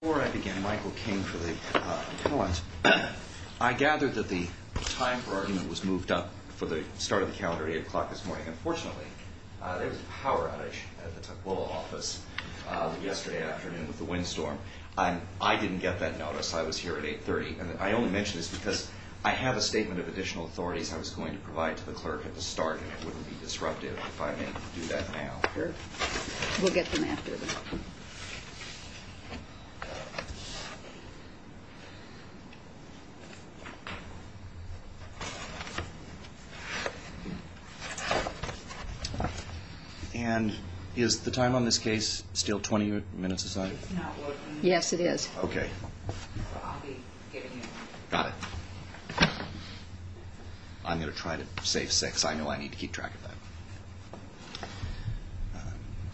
Before I begin, Michael King for the appellant, I gather that the time for argument was moved up for the start of the calendar at 8 o'clock this morning. Unfortunately, there was a power outage at the Tukwila office yesterday afternoon with the windstorm. I didn't get that notice. I was here at 8.30. And I only mention this because I have a statement of additional authorities I was going to provide to the clerk at the start, and it wouldn't be disruptive if I may do that now. We'll get them after. And is the time on this case still 20 minutes aside? Yes, it is. OK. I'm going to try to save six. I know I need to keep track of that.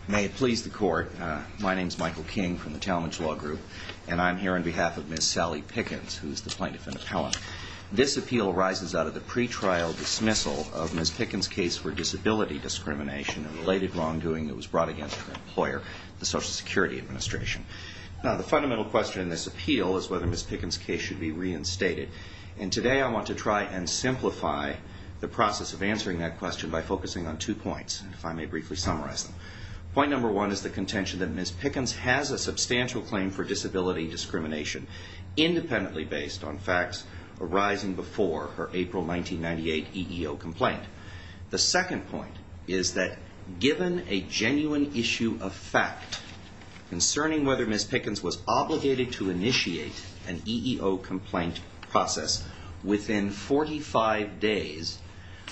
May it please the court, my name's And I'm here on behalf of Ms. Sally Pickens, who's the plaintiff and appellant. This appeal arises out of the pretrial dismissal of Ms. Pickens' case for disability discrimination and related wrongdoing that was brought against her employer, the Social Security Administration. Now, the fundamental question in this appeal is whether Ms. Pickens' case should be reinstated. And today, I want to try and simplify the process of answering that question by focusing on two points, if I may briefly summarize them. Point number one is the contention that Ms. Pickens has a substantial claim for disability discrimination, independently based on facts arising before her April 1998 EEO complaint. The second point is that given a genuine issue of fact concerning whether Ms. Pickens was obligated to initiate an EEO complaint process within 45 days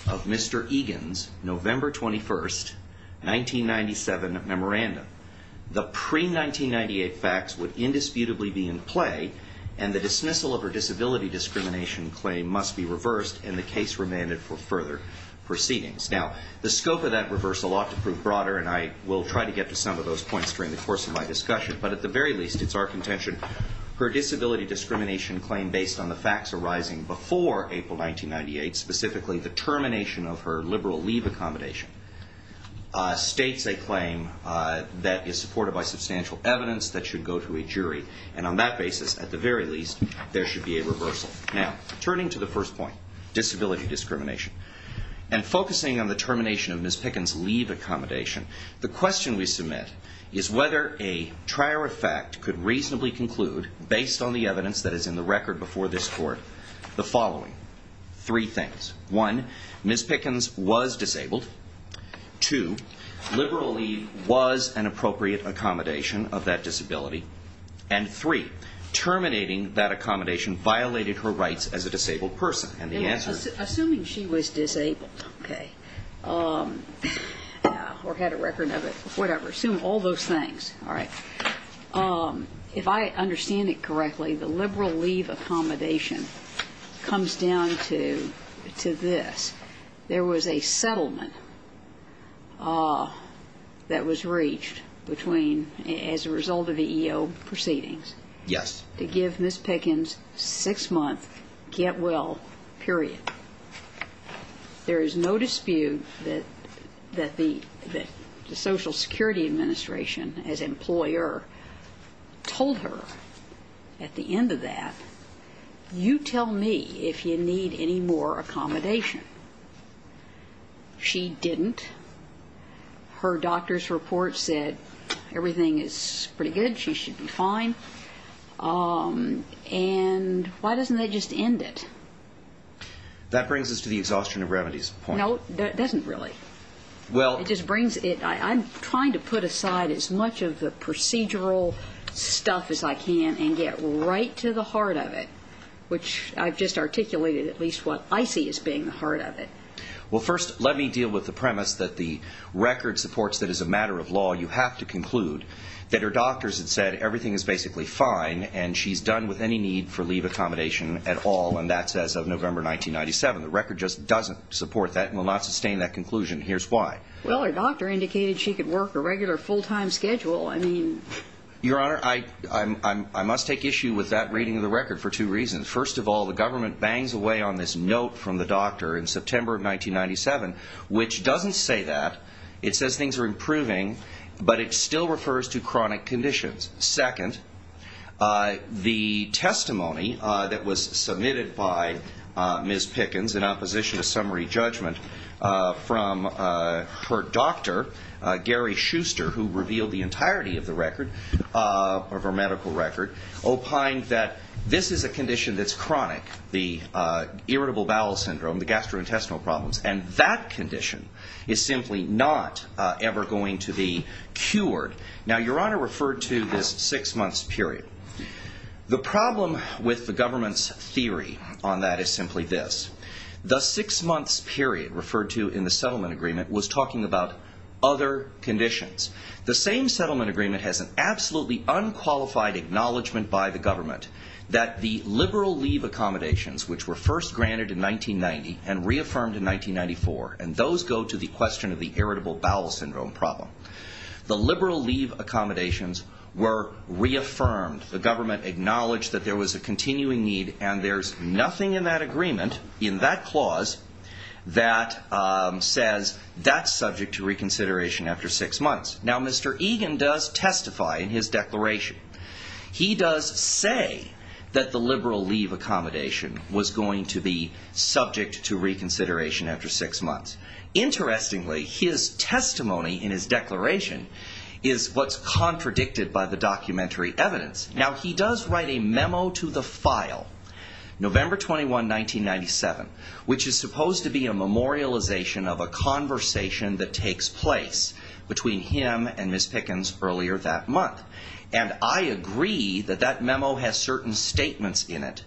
of Mr. Egan's November 21, 1997 memorandum, the pre-1998 facts would indisputably be in play, and the dismissal of her disability discrimination claim must be reversed and the case remanded for further proceedings. Now, the scope of that reverse a lot to prove broader, and I will try to get to some of those points during the course of my discussion. But at the very least, it's our contention, her disability discrimination claim based on the facts arising before April 1998, specifically the termination of her liberal leave accommodation, states a claim that is supported by substantial evidence that should go to a jury. And on that basis, at the very least, there should be a reversal. Now, turning to the first point, disability discrimination, and focusing on the termination of Ms. Pickens leave accommodation, the question we submit is whether a trier of fact could reasonably conclude, based on the evidence that is in the record before this court, the following three things. One, Ms. Pickens was disabled. Two, liberal leave was an appropriate accommodation of that disability. And three, terminating that accommodation violated her rights as a disabled person. And the answer is? Assuming she was disabled, or had a record of it, whatever, assume all those things. If I understand it correctly, the liberal leave accommodation comes down to this. There was a settlement that was reached between, as a result of the EO proceedings, to give Ms. Pickens six month get well period. There is no dispute that the Social Security Administration, as employer, told her at the end of that, you tell me if you need any more accommodation. She didn't. Her doctor's report said, everything is pretty good. She should be fine. And why doesn't that just end it? That brings us to the exhaustion of remedies point. No, it doesn't really. Well, it just brings it. I'm trying to put aside as much of the procedural stuff as I can and get right to the heart of it, which I've just articulated at least what I see as being the heart of it. Well, first, let me deal with the premise that the record supports that as a matter of law, you have to conclude that her doctors had said, everything is basically fine, and she's done with any need for leave accommodation at all. And that's as of November 1997. The record just doesn't support that and will not sustain that conclusion. Here's why. Well, her doctor indicated she could work a regular full time schedule. Your Honor, I must take issue with that reading of the record for two reasons. First of all, the government bangs away on this note from the doctor in September of 1997, which doesn't say that. It says things are improving, but it still refers to chronic conditions. Second, the testimony that was submitted by Ms. Pickens in opposition to summary judgment from her doctor, Gary Schuster, who revealed the entirety of the record, of her medical record, opined that this is a condition that's chronic, the irritable bowel syndrome, the gastrointestinal problems. And that condition is simply not ever going to be cured. Now, Your Honor referred to this six months period. The problem with the government's theory on that is simply this. The six months period referred to in the settlement agreement was talking about other conditions. The same settlement agreement has an absolutely unqualified acknowledgment by the government that the liberal leave accommodations, which were first granted in 1990 and reaffirmed in 1994, and those go to the question of the irritable bowel syndrome problem, the liberal leave accommodations were reaffirmed. The government acknowledged that there was a continuing need, and there's nothing in that agreement, in that clause, that says that's subject to reconsideration after six months. Now, Mr. Egan does testify in his declaration. He does say that the liberal leave accommodation was going to be subject to reconsideration after six months. Interestingly, his testimony in his declaration is what's contradicted by the documentary evidence. Now, he does write a memo to the file, November 21, 1997, which is supposed to be a memorialization of a conversation that takes place between him and Ms. Pickens earlier that month. And I agree that that memo has certain statements in it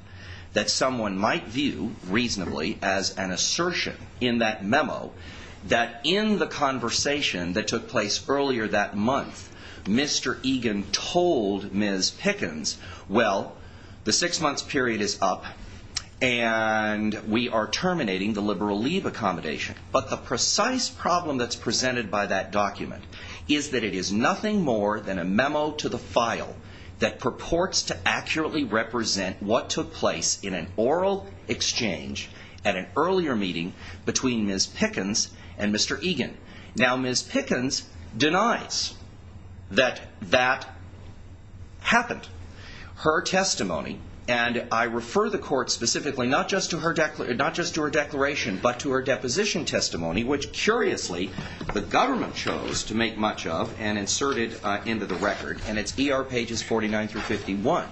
that someone might view reasonably as an assertion in that memo that in the conversation that took place earlier that month, Mr. Egan told Ms. Pickens, well, the six months period is up, and we are terminating the liberal leave accommodation. But the precise problem that's presented by that document is that it is nothing more than a memo to the file that purports to accurately represent what took place in an oral exchange at an earlier meeting between Ms. Pickens and Mr. Egan. Now, Ms. Pickens denies that that happened. Her testimony, and I refer the court specifically not just to her declaration, but to her deposition testimony, which, curiously, the government chose to make much of and inserted into the record. And it's ER pages 49 through 51.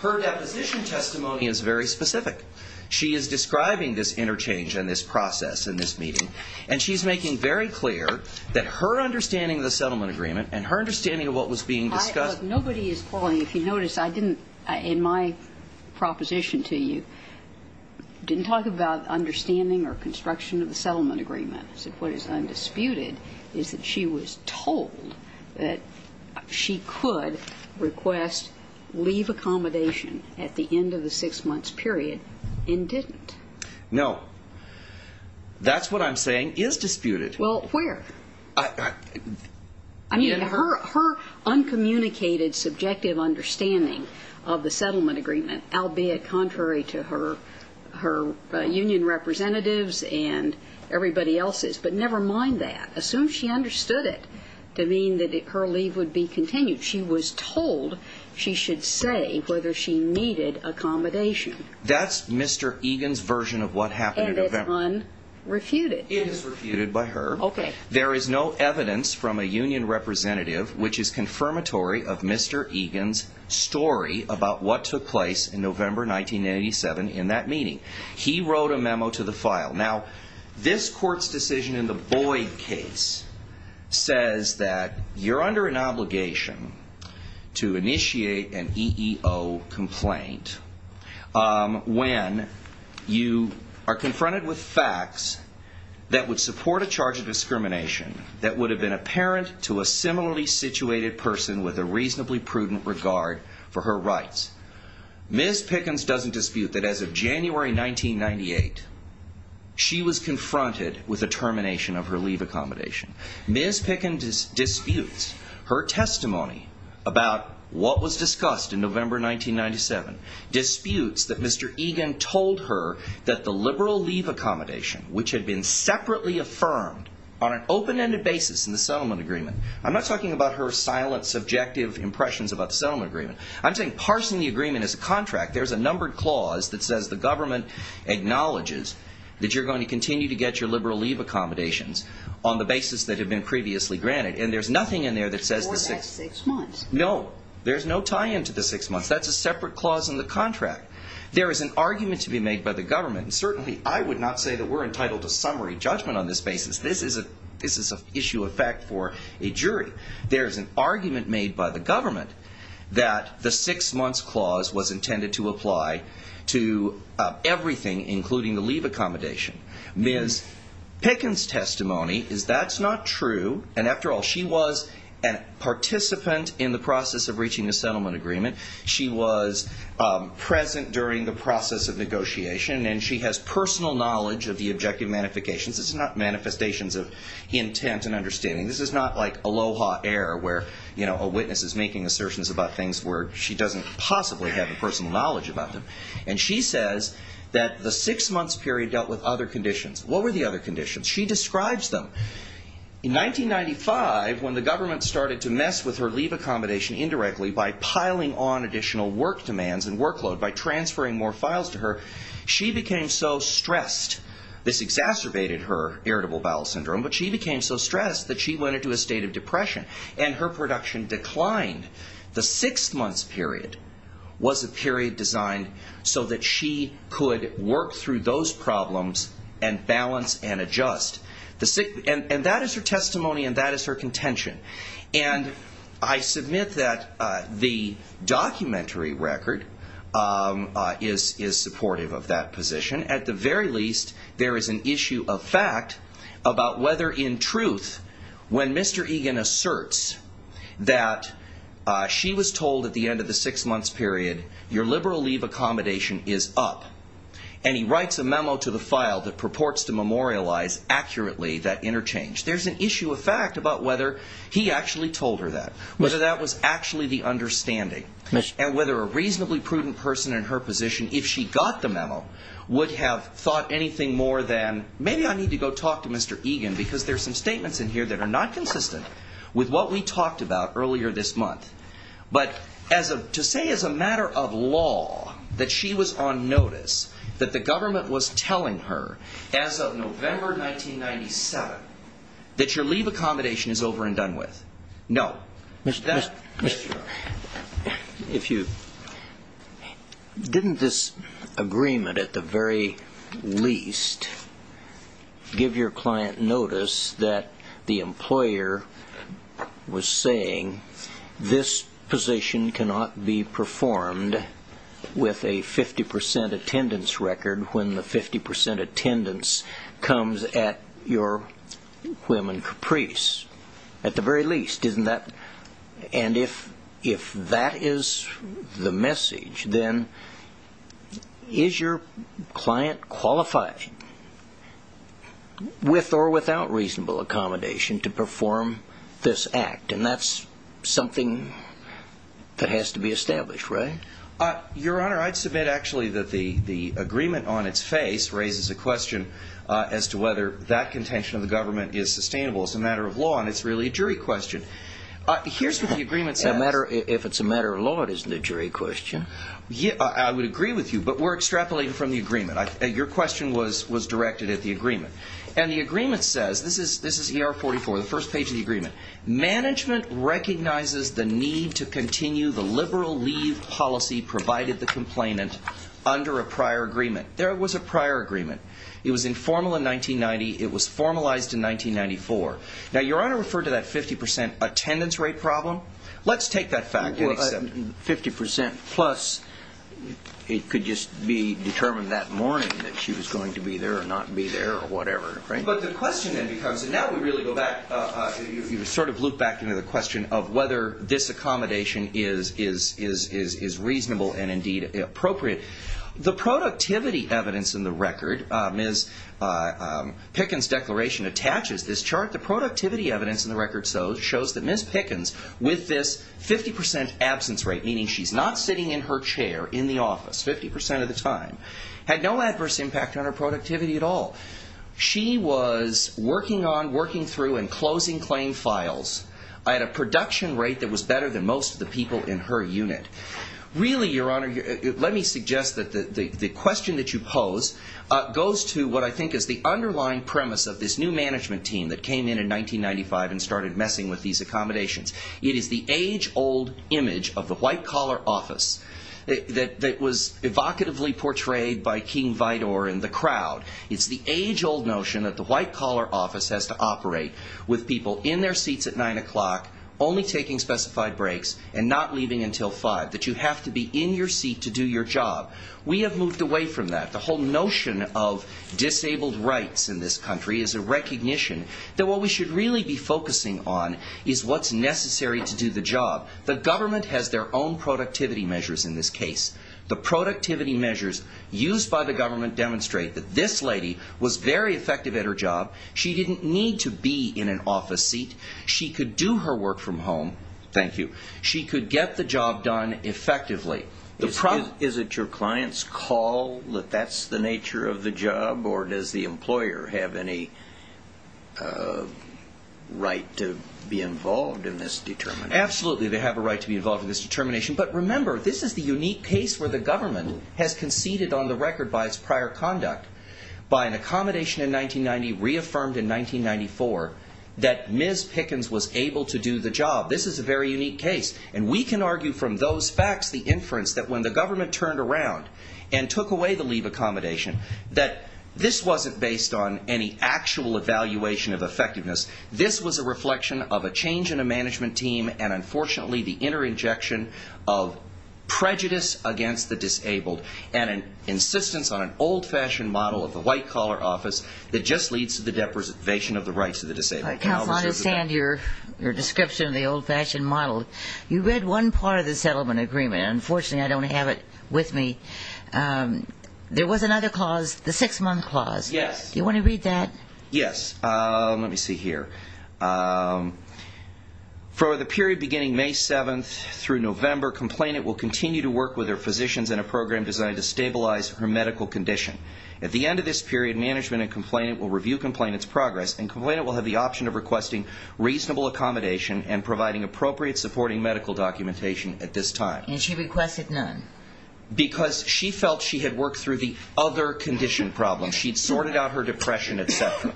Her deposition testimony is very specific. She is describing this interchange and this process in this meeting. And she's making very clear that her understanding of the settlement agreement and her understanding of what was being discussed. Nobody is calling. If you notice, I didn't, in my proposition to you, didn't talk about understanding or construction of the settlement agreement. What is undisputed is that she was told that she could request leave accommodation at the end of the six months period and didn't. No. That's what I'm saying is disputed. Well, where? I mean, her uncommunicated subjective understanding of the settlement agreement, albeit contrary to her union representatives and everybody else's. But never mind that. Assume she understood it to mean that her leave would be continued. She was told she should say whether she needed accommodation. That's Mr. Egan's version of what happened in November. And it's unrefuted. It is refuted by her. There is no evidence from a union representative which is confirmatory of Mr. Egan's story about what took place in November 1987 in that meeting. He wrote a memo to the file. Now, this court's decision in the Boyd case says that you're under an obligation to initiate an EEO complaint when you are confronted with facts that would support a charge of discrimination that would have been apparent to a similarly situated person with a reasonably prudent regard for her rights. Ms. Pickens doesn't dispute that as of January 1998, she was confronted with the termination of her leave accommodation. Ms. Pickens disputes her testimony about what was discussed in November 1997, disputes that Mr. Egan told her that the liberal leave accommodation, which had been separately affirmed on an open-ended basis in the settlement agreement. I'm not talking about her silent, subjective impressions about the settlement agreement. I'm saying parsing the agreement as a contract. There's a numbered clause that says the government acknowledges that you're going to continue to get your liberal leave accommodations on the basis that have been previously granted. And there's nothing in there that says the six months. No, there's no tie-in to the six months. That's a separate clause in the contract. There is an argument to be made by the government. Certainly, I would not say that we're entitled to summary judgment on this basis. This is an issue of fact for a jury. There is an argument made by the government that the six months clause was intended to apply to everything, including the leave accommodation. Ms. Pickens' testimony is that's not true. And after all, she was a participant in the process of reaching a settlement agreement. She was present during the process of negotiation. And she has personal knowledge of the objective manifestations. This is not manifestations of intent and understanding. This is not like Aloha Air, where a witness is making assertions about things where she doesn't possibly have the personal knowledge about them. And she says that the six months period dealt with other conditions. What were the other conditions? She describes them. In 1995, when the government started to mess with her leave accommodation indirectly by piling on additional work demands and workload, by transferring more files to her, she became so stressed. This exacerbated her irritable bowel syndrome. But she became so stressed that she went into a state of depression. And her production declined. The six months period was a period designed so that she could work through those problems and balance and adjust. And that is her testimony. And that is her contention. And I submit that the documentary record is supportive of that position. At the very least, there is an issue of fact about whether, in truth, when Mr. Egan asserts that she was told at the end of the six months period, your liberal leave accommodation is up, and he writes a memo to the file that purports to memorialize accurately that interchange, there's an issue of fact about whether he actually told her that, whether that was actually the understanding, and whether a reasonably prudent person in her position, if she got the memo, would have thought anything more than, maybe I need to go talk to Mr. Egan, because there's some statements in here that are not consistent with what we talked about earlier this month. But to say, as a matter of law, that she was on notice, that the government was telling her, as of November 1997, that your leave accommodation is over and done with, no. Didn't this agreement, at the very least, give your client notice that the employer was saying, this position cannot be performed with a 50% attendance record when the 50% attendance comes at your whim and caprice? At the very least, isn't that? And if that is the message, then is your client qualified, with or without reasonable accommodation, to perform this act? And that's something that has to be established, right? Your Honor, I'd submit, actually, that the agreement on its face raises a question as to whether that contention of the government is sustainable. It's a matter of law, and it's really a jury question. Here's what the agreement says. If it's a matter of law, it isn't a jury question. I would agree with you, but we're extrapolating from the agreement. Your question was directed at the agreement. And the agreement says, this is ER 44, the first page of the agreement. Management recognizes the need to continue the liberal leave policy provided the complainant under a prior agreement. There was a prior agreement. It was informal in 1990. It was formalized in 1994. Now, Your Honor referred to that 50% attendance rate problem. Let's take that fact and accept it. 50% plus, it could just be determined that morning that she was going to be there or not be there or whatever. But the question then becomes, and now we really go back, you sort of loop back into the question of whether this accommodation is reasonable and indeed appropriate. The productivity evidence in the record, Ms. Pickens' declaration attaches this chart. The productivity evidence in the record shows that Ms. Pickens, with this 50% absence rate, meaning she's not sitting in her chair in the office 50% of the time, had no adverse impact on her productivity at all. She was working on, working through, and closing claim files at a production rate that was better than most of the people in her unit. Really, Your Honor, let me suggest that the question that you pose goes to what I think is the underlying premise of this new management team that came in in 1995 and started messing with these accommodations. It is the age-old image of the white-collar office that was evocatively portrayed by King Vidor and the crowd. It's the age-old notion that the white-collar office has to operate with people in their seats at 9 o'clock, only taking specified breaks, and not leaving until 5, that you have to be in your seat to do your job. We have moved away from that. The whole notion of disabled rights in this country is a recognition that what we should really be focusing on is what's necessary to do the job. The government has their own productivity measures in this case. The productivity measures used by the government demonstrate that this lady was very effective at her job. She didn't need to be in an office seat. She could do her work from home. Thank you. She could get the job done effectively. Is it your client's call that that's the nature of the job? Or does the employer have any right to be involved in this determination? Absolutely, they have a right to be involved in this determination. But remember, this is the unique case where the government has conceded on the record by its prior conduct, by an accommodation in 1990 reaffirmed in 1994, that Ms. Pickens was able to do the job. This is a very unique case. And we can argue from those facts, the inference, that when the government turned around and took away the leave accommodation, that this wasn't based on any actual evaluation of effectiveness. This was a reflection of a change in a management team, and unfortunately, the inner injection of prejudice against the disabled, and an insistence on an old-fashioned model of the white-collar office that just leads to the depression of the rights of the disabled. I understand your description of the old-fashioned model. You read one part of the settlement agreement. Unfortunately, I don't have it with me. There was another clause, the six-month clause. Yes. Do you want to read that? Yes. Let me see here. For the period beginning May 7th through November, complainant will continue to work with her physicians in a program designed to stabilize her medical condition. At the end of this period, management and complainant will review complainant's progress, and complainant will have the option of requesting reasonable accommodation and providing appropriate supporting medical documentation at this time. And she requested none. Because she felt she had worked through the other condition problem. She'd sorted out her depression, et cetera.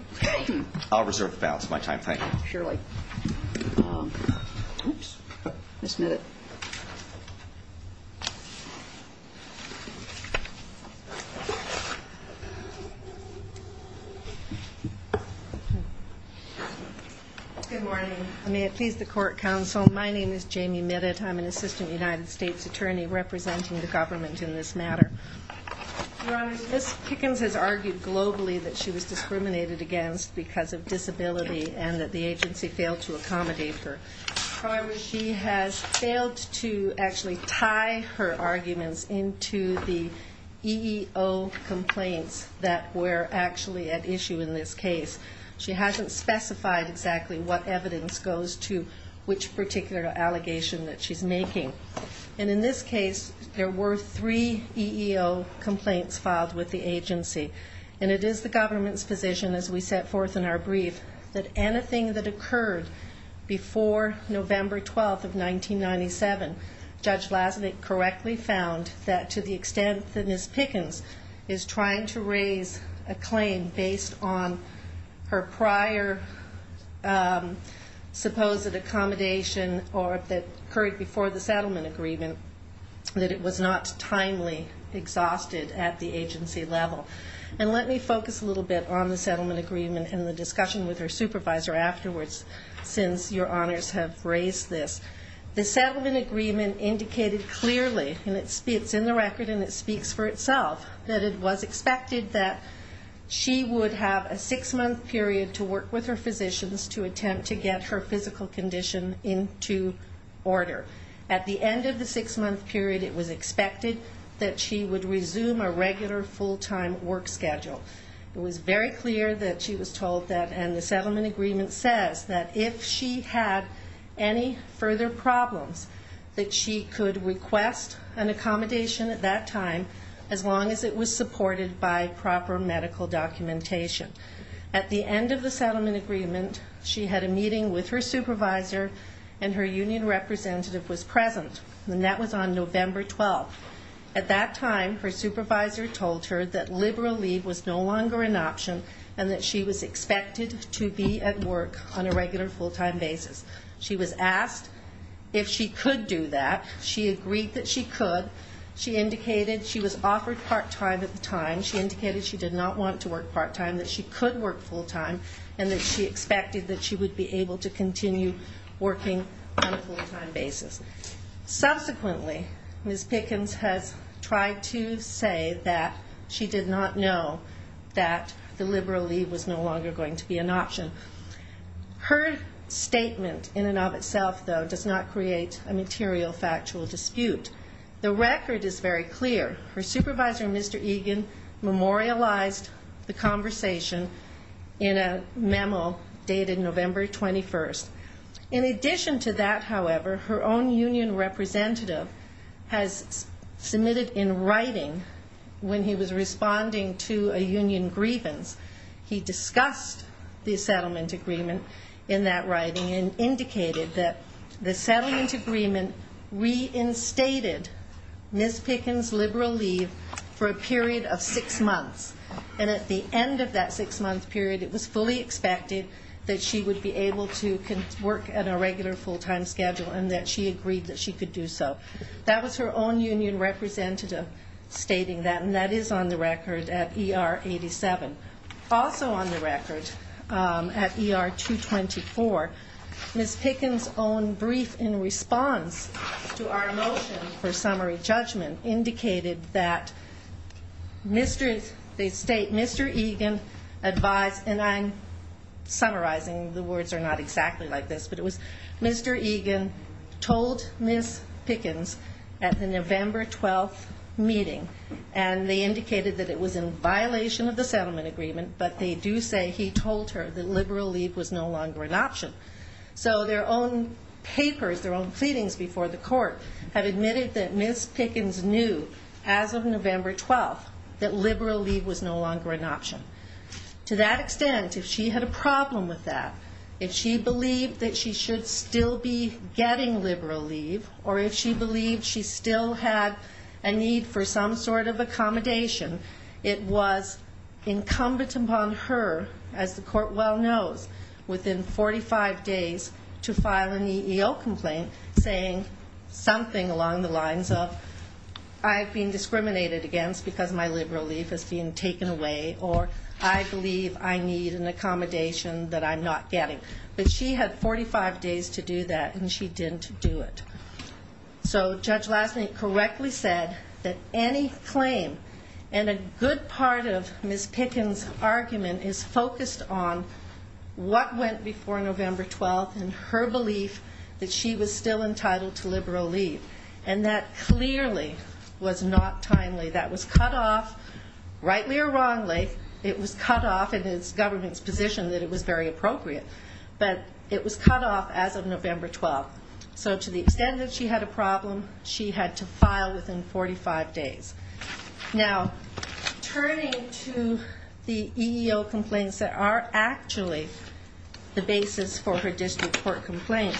I'll reserve the balance of my time. Thank you. Surely. Oops. Ms. Mitted. Good morning. May it please the court counsel, my name is Jamie Mitted. I'm an assistant United States attorney representing the government in this matter. Ms. Pickens has argued globally that she was discriminated against because of disability and that the agency failed to accommodate her. However, she has failed to actually tie her arguments into the EEO complaints that were actually at issue in this case. She hasn't specified exactly what evidence goes to which particular allegation that she's making. And in this case, there were three EEO complaints filed with the agency. And it is the government's position as we set forth in our brief that anything that occurred before November 12th of 1997, Judge Vlasnik correctly found that to the extent that Ms. Pickens is trying to raise a claim based on her prior supposed accommodation or that occurred before the settlement agreement, that it was not timely exhausted at the agency level. And let me focus a little bit on the settlement agreement and the discussion with her supervisor afterwards since your honors have raised this. The settlement agreement indicated clearly, and it's in the record and it speaks for itself, that it was expected that she would have a six month period to work with her physicians to attempt to get her physical condition into order. At the end of the six month period, it was expected that she would resume a regular full time work schedule. It was very clear that she was told that, and the settlement agreement says that if she had any further problems, that she could request an accommodation at that time as long as it was supported by proper medical documentation. At the end of the settlement agreement, she had a meeting with her supervisor and her union representative was present. And that was on November 12th. At that time, her supervisor told her that liberal leave was no longer an option and that she was expected to be at work on a regular full time basis. She was asked if she could do that. She agreed that she could. She indicated she was offered part time at the time. She indicated she did not want to work part time, that she could work full time, and that she expected that she would be able to continue working on a full time basis. Subsequently, Ms. Pickens has tried to say that she did not know that the liberal leave was no longer going to be an option. Her statement in and of itself, though, does not create a material factual dispute. The record is very clear. Her supervisor, Mr. Egan, memorialized the conversation in a memo dated November 21st. In addition to that, however, her own union representative has submitted in writing, when he was responding to a union grievance, he discussed the settlement agreement in that writing and indicated that the settlement agreement reinstated Ms. Pickens' liberal leave for a period of six months. And at the end of that six month period, it was fully expected that she would be able to work at a regular full time schedule and that she agreed that she could do so. That was her own union representative stating that, and that is on the record at ER 87. Also on the record at ER 224, Ms. Pickens' own brief in response to our motion for summary judgment indicated that Mr. Egan advised, and I'm summarizing, the words are not exactly like this, but it was Mr. Egan told Ms. Pickens at the November 12 meeting. And they indicated that it was in violation of the settlement agreement, but they do say he told her that liberal leave was no longer an option. So their own papers, their own pleadings before the court, have admitted that Ms. Pickens knew as of November 12 that liberal leave was no longer an option. To that extent, if she had a problem with that, if she believed that she should still be getting liberal leave, or if she believed she still had a need for some sort of accommodation, it was incumbent upon her, as the court well knows, within 45 days to file an EEO complaint saying something along the lines of, I've been discriminated against because my liberal leave has been taken away, or I believe I need an accommodation that I'm not getting. But she had 45 days to do that, and she didn't do it. So Judge Lasney correctly said that any claim, and a good part of Ms. Pickens' argument is focused on what went before November 12 and her belief that she was still entitled to liberal leave. And that clearly was not timely. That was cut off, rightly or wrongly, it was cut off in the government's position that it was very appropriate. But it was cut off as of November 12. So to the extent that she had a problem, she had to file within 45 days. Now, turning to the EEO complaints that are actually the basis for her district court complaint,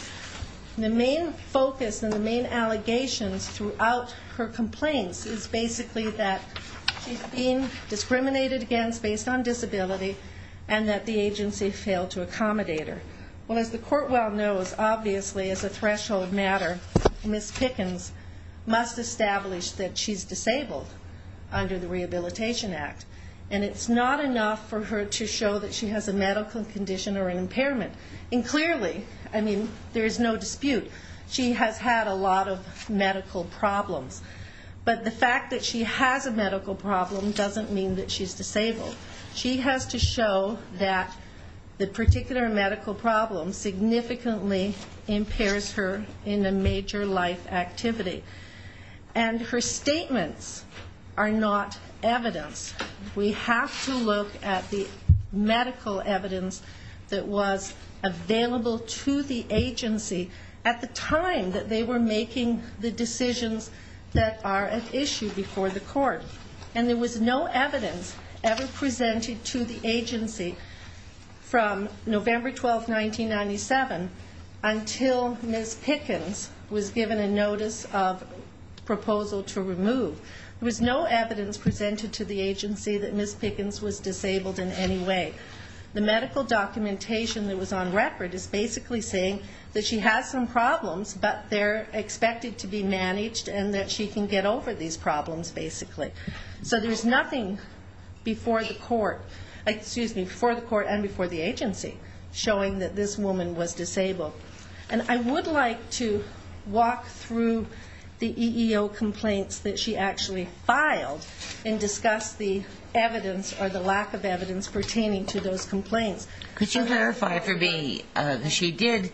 the main focus and the main allegations throughout her complaints is basically that she's being discriminated against based on disability, and that the agency failed to accommodate her. Well, as the court well knows, obviously as a threshold matter, Ms. Pickens must establish that she's disabled under the Rehabilitation Act. And it's not enough for her to show that she has a medical condition or an impairment. And clearly, I mean, there is no dispute. She has had a lot of medical problems. But the fact that she has a medical problem doesn't mean that she's disabled. She has to show that the particular medical problem significantly impairs her in a major life activity. And her statements are not evidence. We have to look at the medical evidence that was available to the agency at the time that they were making the decisions that are at issue before the court. And there was no evidence ever presented to the agency from November 12, 1997 until Ms. Pickens was given a notice of proposal to remove. There was no evidence presented to the agency that Ms. Pickens was disabled in any way. The medical documentation that was on record is basically saying that she has some problems, but they're expected to be managed and that she can get over these problems, basically. So there's nothing before the court and before the agency showing that this woman was disabled. And I would like to walk through the EEO complaints that she actually filed and discuss the evidence or the lack of evidence pertaining to those complaints. Could you verify for me that she did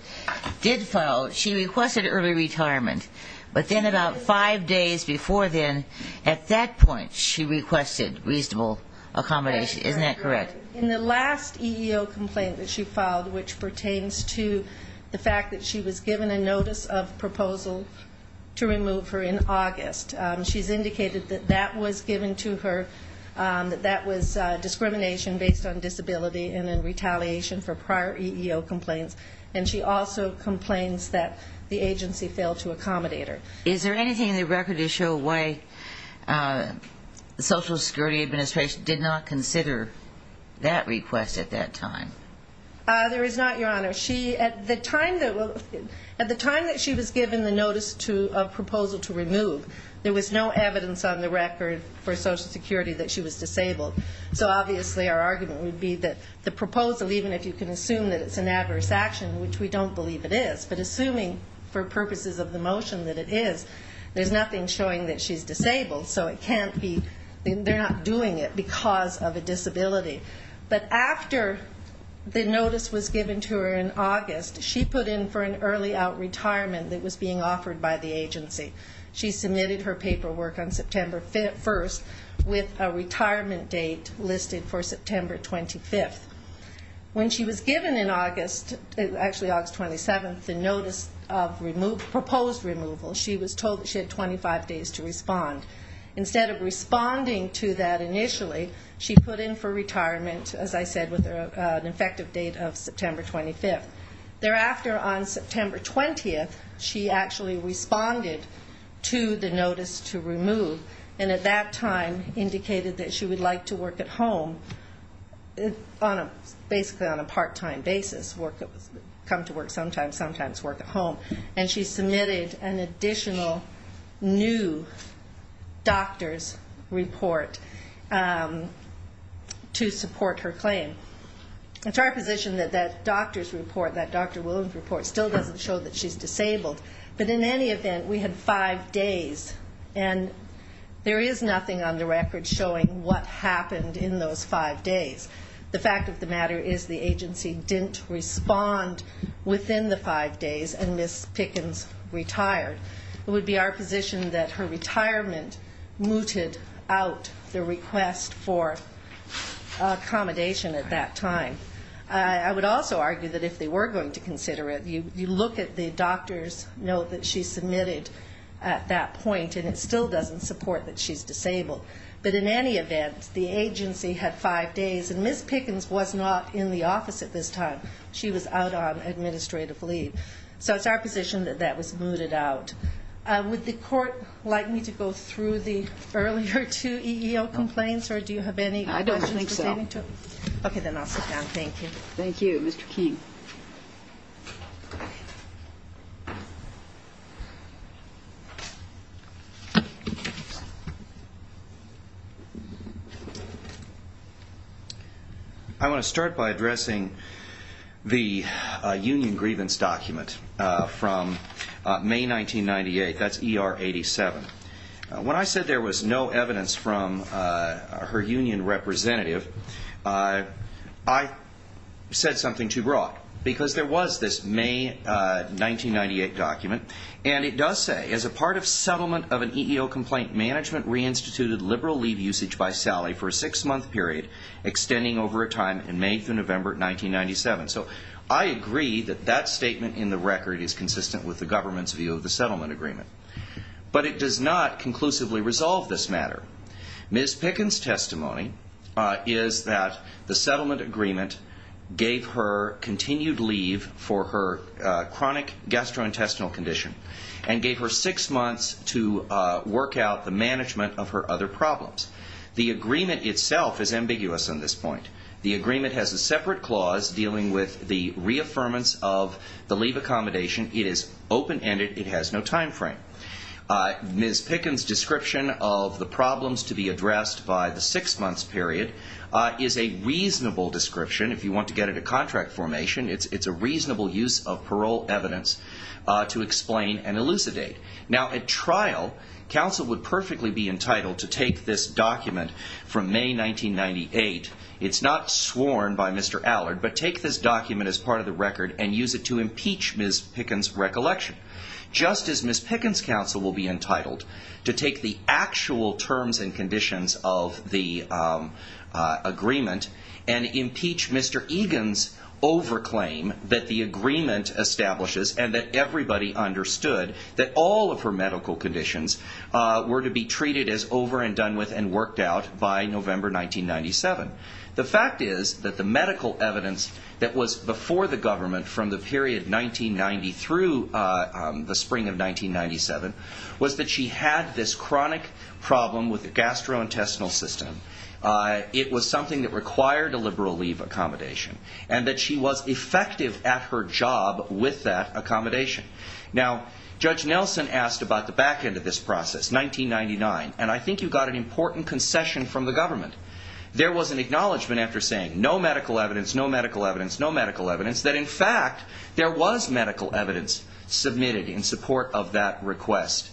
file? She requested early retirement. But then about five days before then, at that point, she requested reasonable accommodation. Isn't that correct? In the last EEO complaint that she filed, which pertains to the fact that she was given a notice of proposal to remove her in August, she's indicated that that was discrimination based on disability and in retaliation for prior EEO complaints. And she also complains that the agency failed to accommodate her. Is there anything in the record to show why the Social Security Administration did not consider that request at that time? There is not, Your Honor. At the time that she was given the notice of proposal to remove, there was no evidence on the record for Social Security that she was disabled. So obviously, our argument would be that the proposal, even if you can assume that it's an adverse action, which we don't believe it is, but assuming for purposes of the motion that it is, there's nothing showing that she's disabled. So it can't be. They're not doing it because of a disability. But after the notice was given to her in August, she put in for an early out retirement that was being offered by the agency. She submitted her paperwork on September 1 with a retirement date listed for September 25. When she was given in August, actually August 27, the notice of proposed removal, she was told that she had 25 days to respond. Instead of responding to that initially, she put in for retirement, as I said, with an effective date of September 25. responded to the notice to remove. And at that time, indicated that she would like to work at home, basically on a part-time basis, come to work sometimes, sometimes work at home. And she submitted an additional new doctor's report to support her claim. It's our position that that doctor's report, that Dr. Williams report, still doesn't show that she's disabled. But in any event, we had five days. And there is nothing on the record showing what happened in those five days. The fact of the matter is the agency didn't respond within the five days, and Ms. Pickens retired. It would be our position that her retirement mooted out the request for accommodation at that time. I would also argue that if they were going to consider it, you look at the doctor's note that she submitted at that point, and it still doesn't support that she's disabled. But in any event, the agency had five days. And Ms. Pickens was not in the office at this time. She was out on administrative leave. So it's our position that that was mooted out. Would the court like me to go through the earlier two EEO complaints? Or do you have any questions? I don't think so. OK, then I'll sit down. Thank you. Thank you. Mr. Key. Thank you. I want to start by addressing the union grievance document from May 1998. That's ER 87. When I said there was no evidence from her union representative, I said something too broad. Because there was this May 1998 document. And it does say, as a part of settlement of an EEO complaint, management reinstituted liberal leave usage by Sally for a six-month period, extending over a time in May through November 1997. So I agree that that statement in the record is consistent with the government's view of the settlement agreement. But it does not conclusively resolve this matter. Ms. Pickens' testimony is that the settlement agreement gave her continued leave for her chronic gastrointestinal condition and gave her six months to work out the management of her other problems. The agreement itself is ambiguous on this point. The agreement has a separate clause dealing with the reaffirmance of the leave accommodation. It is open-ended. It has no time frame. Ms. Pickens' description of the problems to be addressed by the six-month period is a reasonable description. If you want to get it at contract formation, it's a reasonable use of parole evidence to explain and elucidate. Now, at trial, counsel would perfectly be entitled to take this document from May 1998. It's not sworn by Mr. Allard, but take this document as part of the record and use it to impeach Ms. Pickens' recollection, just as Ms. Pickens' counsel will be entitled to take the actual terms and conditions of the agreement and impeach Mr. Egan's over-claim that the agreement establishes and that everybody understood that all of her medical conditions were to be treated as over and done with and worked out by November 1997. The fact is that the medical evidence that was before the government from the period 1990 through the spring of 1997 was that she had this chronic problem with the gastrointestinal system. It was something that required a liberal leave accommodation and that she was effective at her job with that accommodation. Now, Judge Nelson asked about the back end of this process, 1999, and I think you got an important concession from the government. There was an acknowledgment after saying, no medical evidence, no medical evidence, no medical evidence, that in fact, there was medical evidence submitted in support of that request.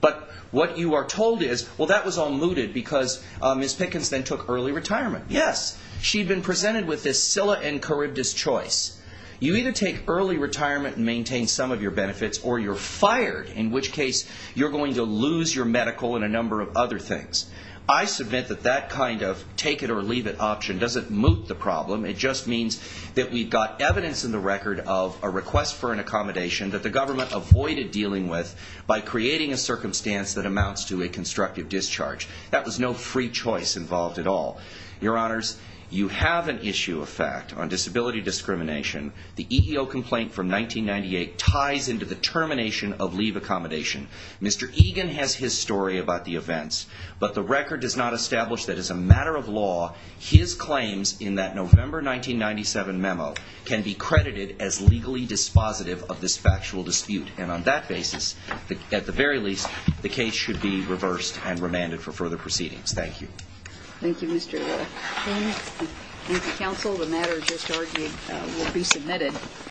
But what you are told is, well, that was all mooted because Ms. Pickens then took early retirement. Yes. She'd been presented with this Scilla and Charybdis choice. You either take early retirement and maintain some of your benefits or you're fired, in which case you're going to lose your medical and a number of other things. I submit that that kind of take it or leave it option doesn't moot the problem. It just means that we've got evidence in the record of a request for an accommodation that the government avoided dealing with by creating a circumstance that amounts to a constructive discharge. That was no free choice involved at all. Your Honors, you have an issue of fact on disability discrimination. The EEO complaint from 1998 ties into the termination of leave accommodation. Mr. Egan has his story about the events, but the record does not establish that as a matter of law, his claims in that November 1997 memo can be credited as legally dispositive of this factual dispute. And on that basis, at the very least, the case should be reversed and remanded for further proceedings. Thank you. Thank you, Mr. Egan. Thank you. Thank you, counsel. The matter just argued will be submitted.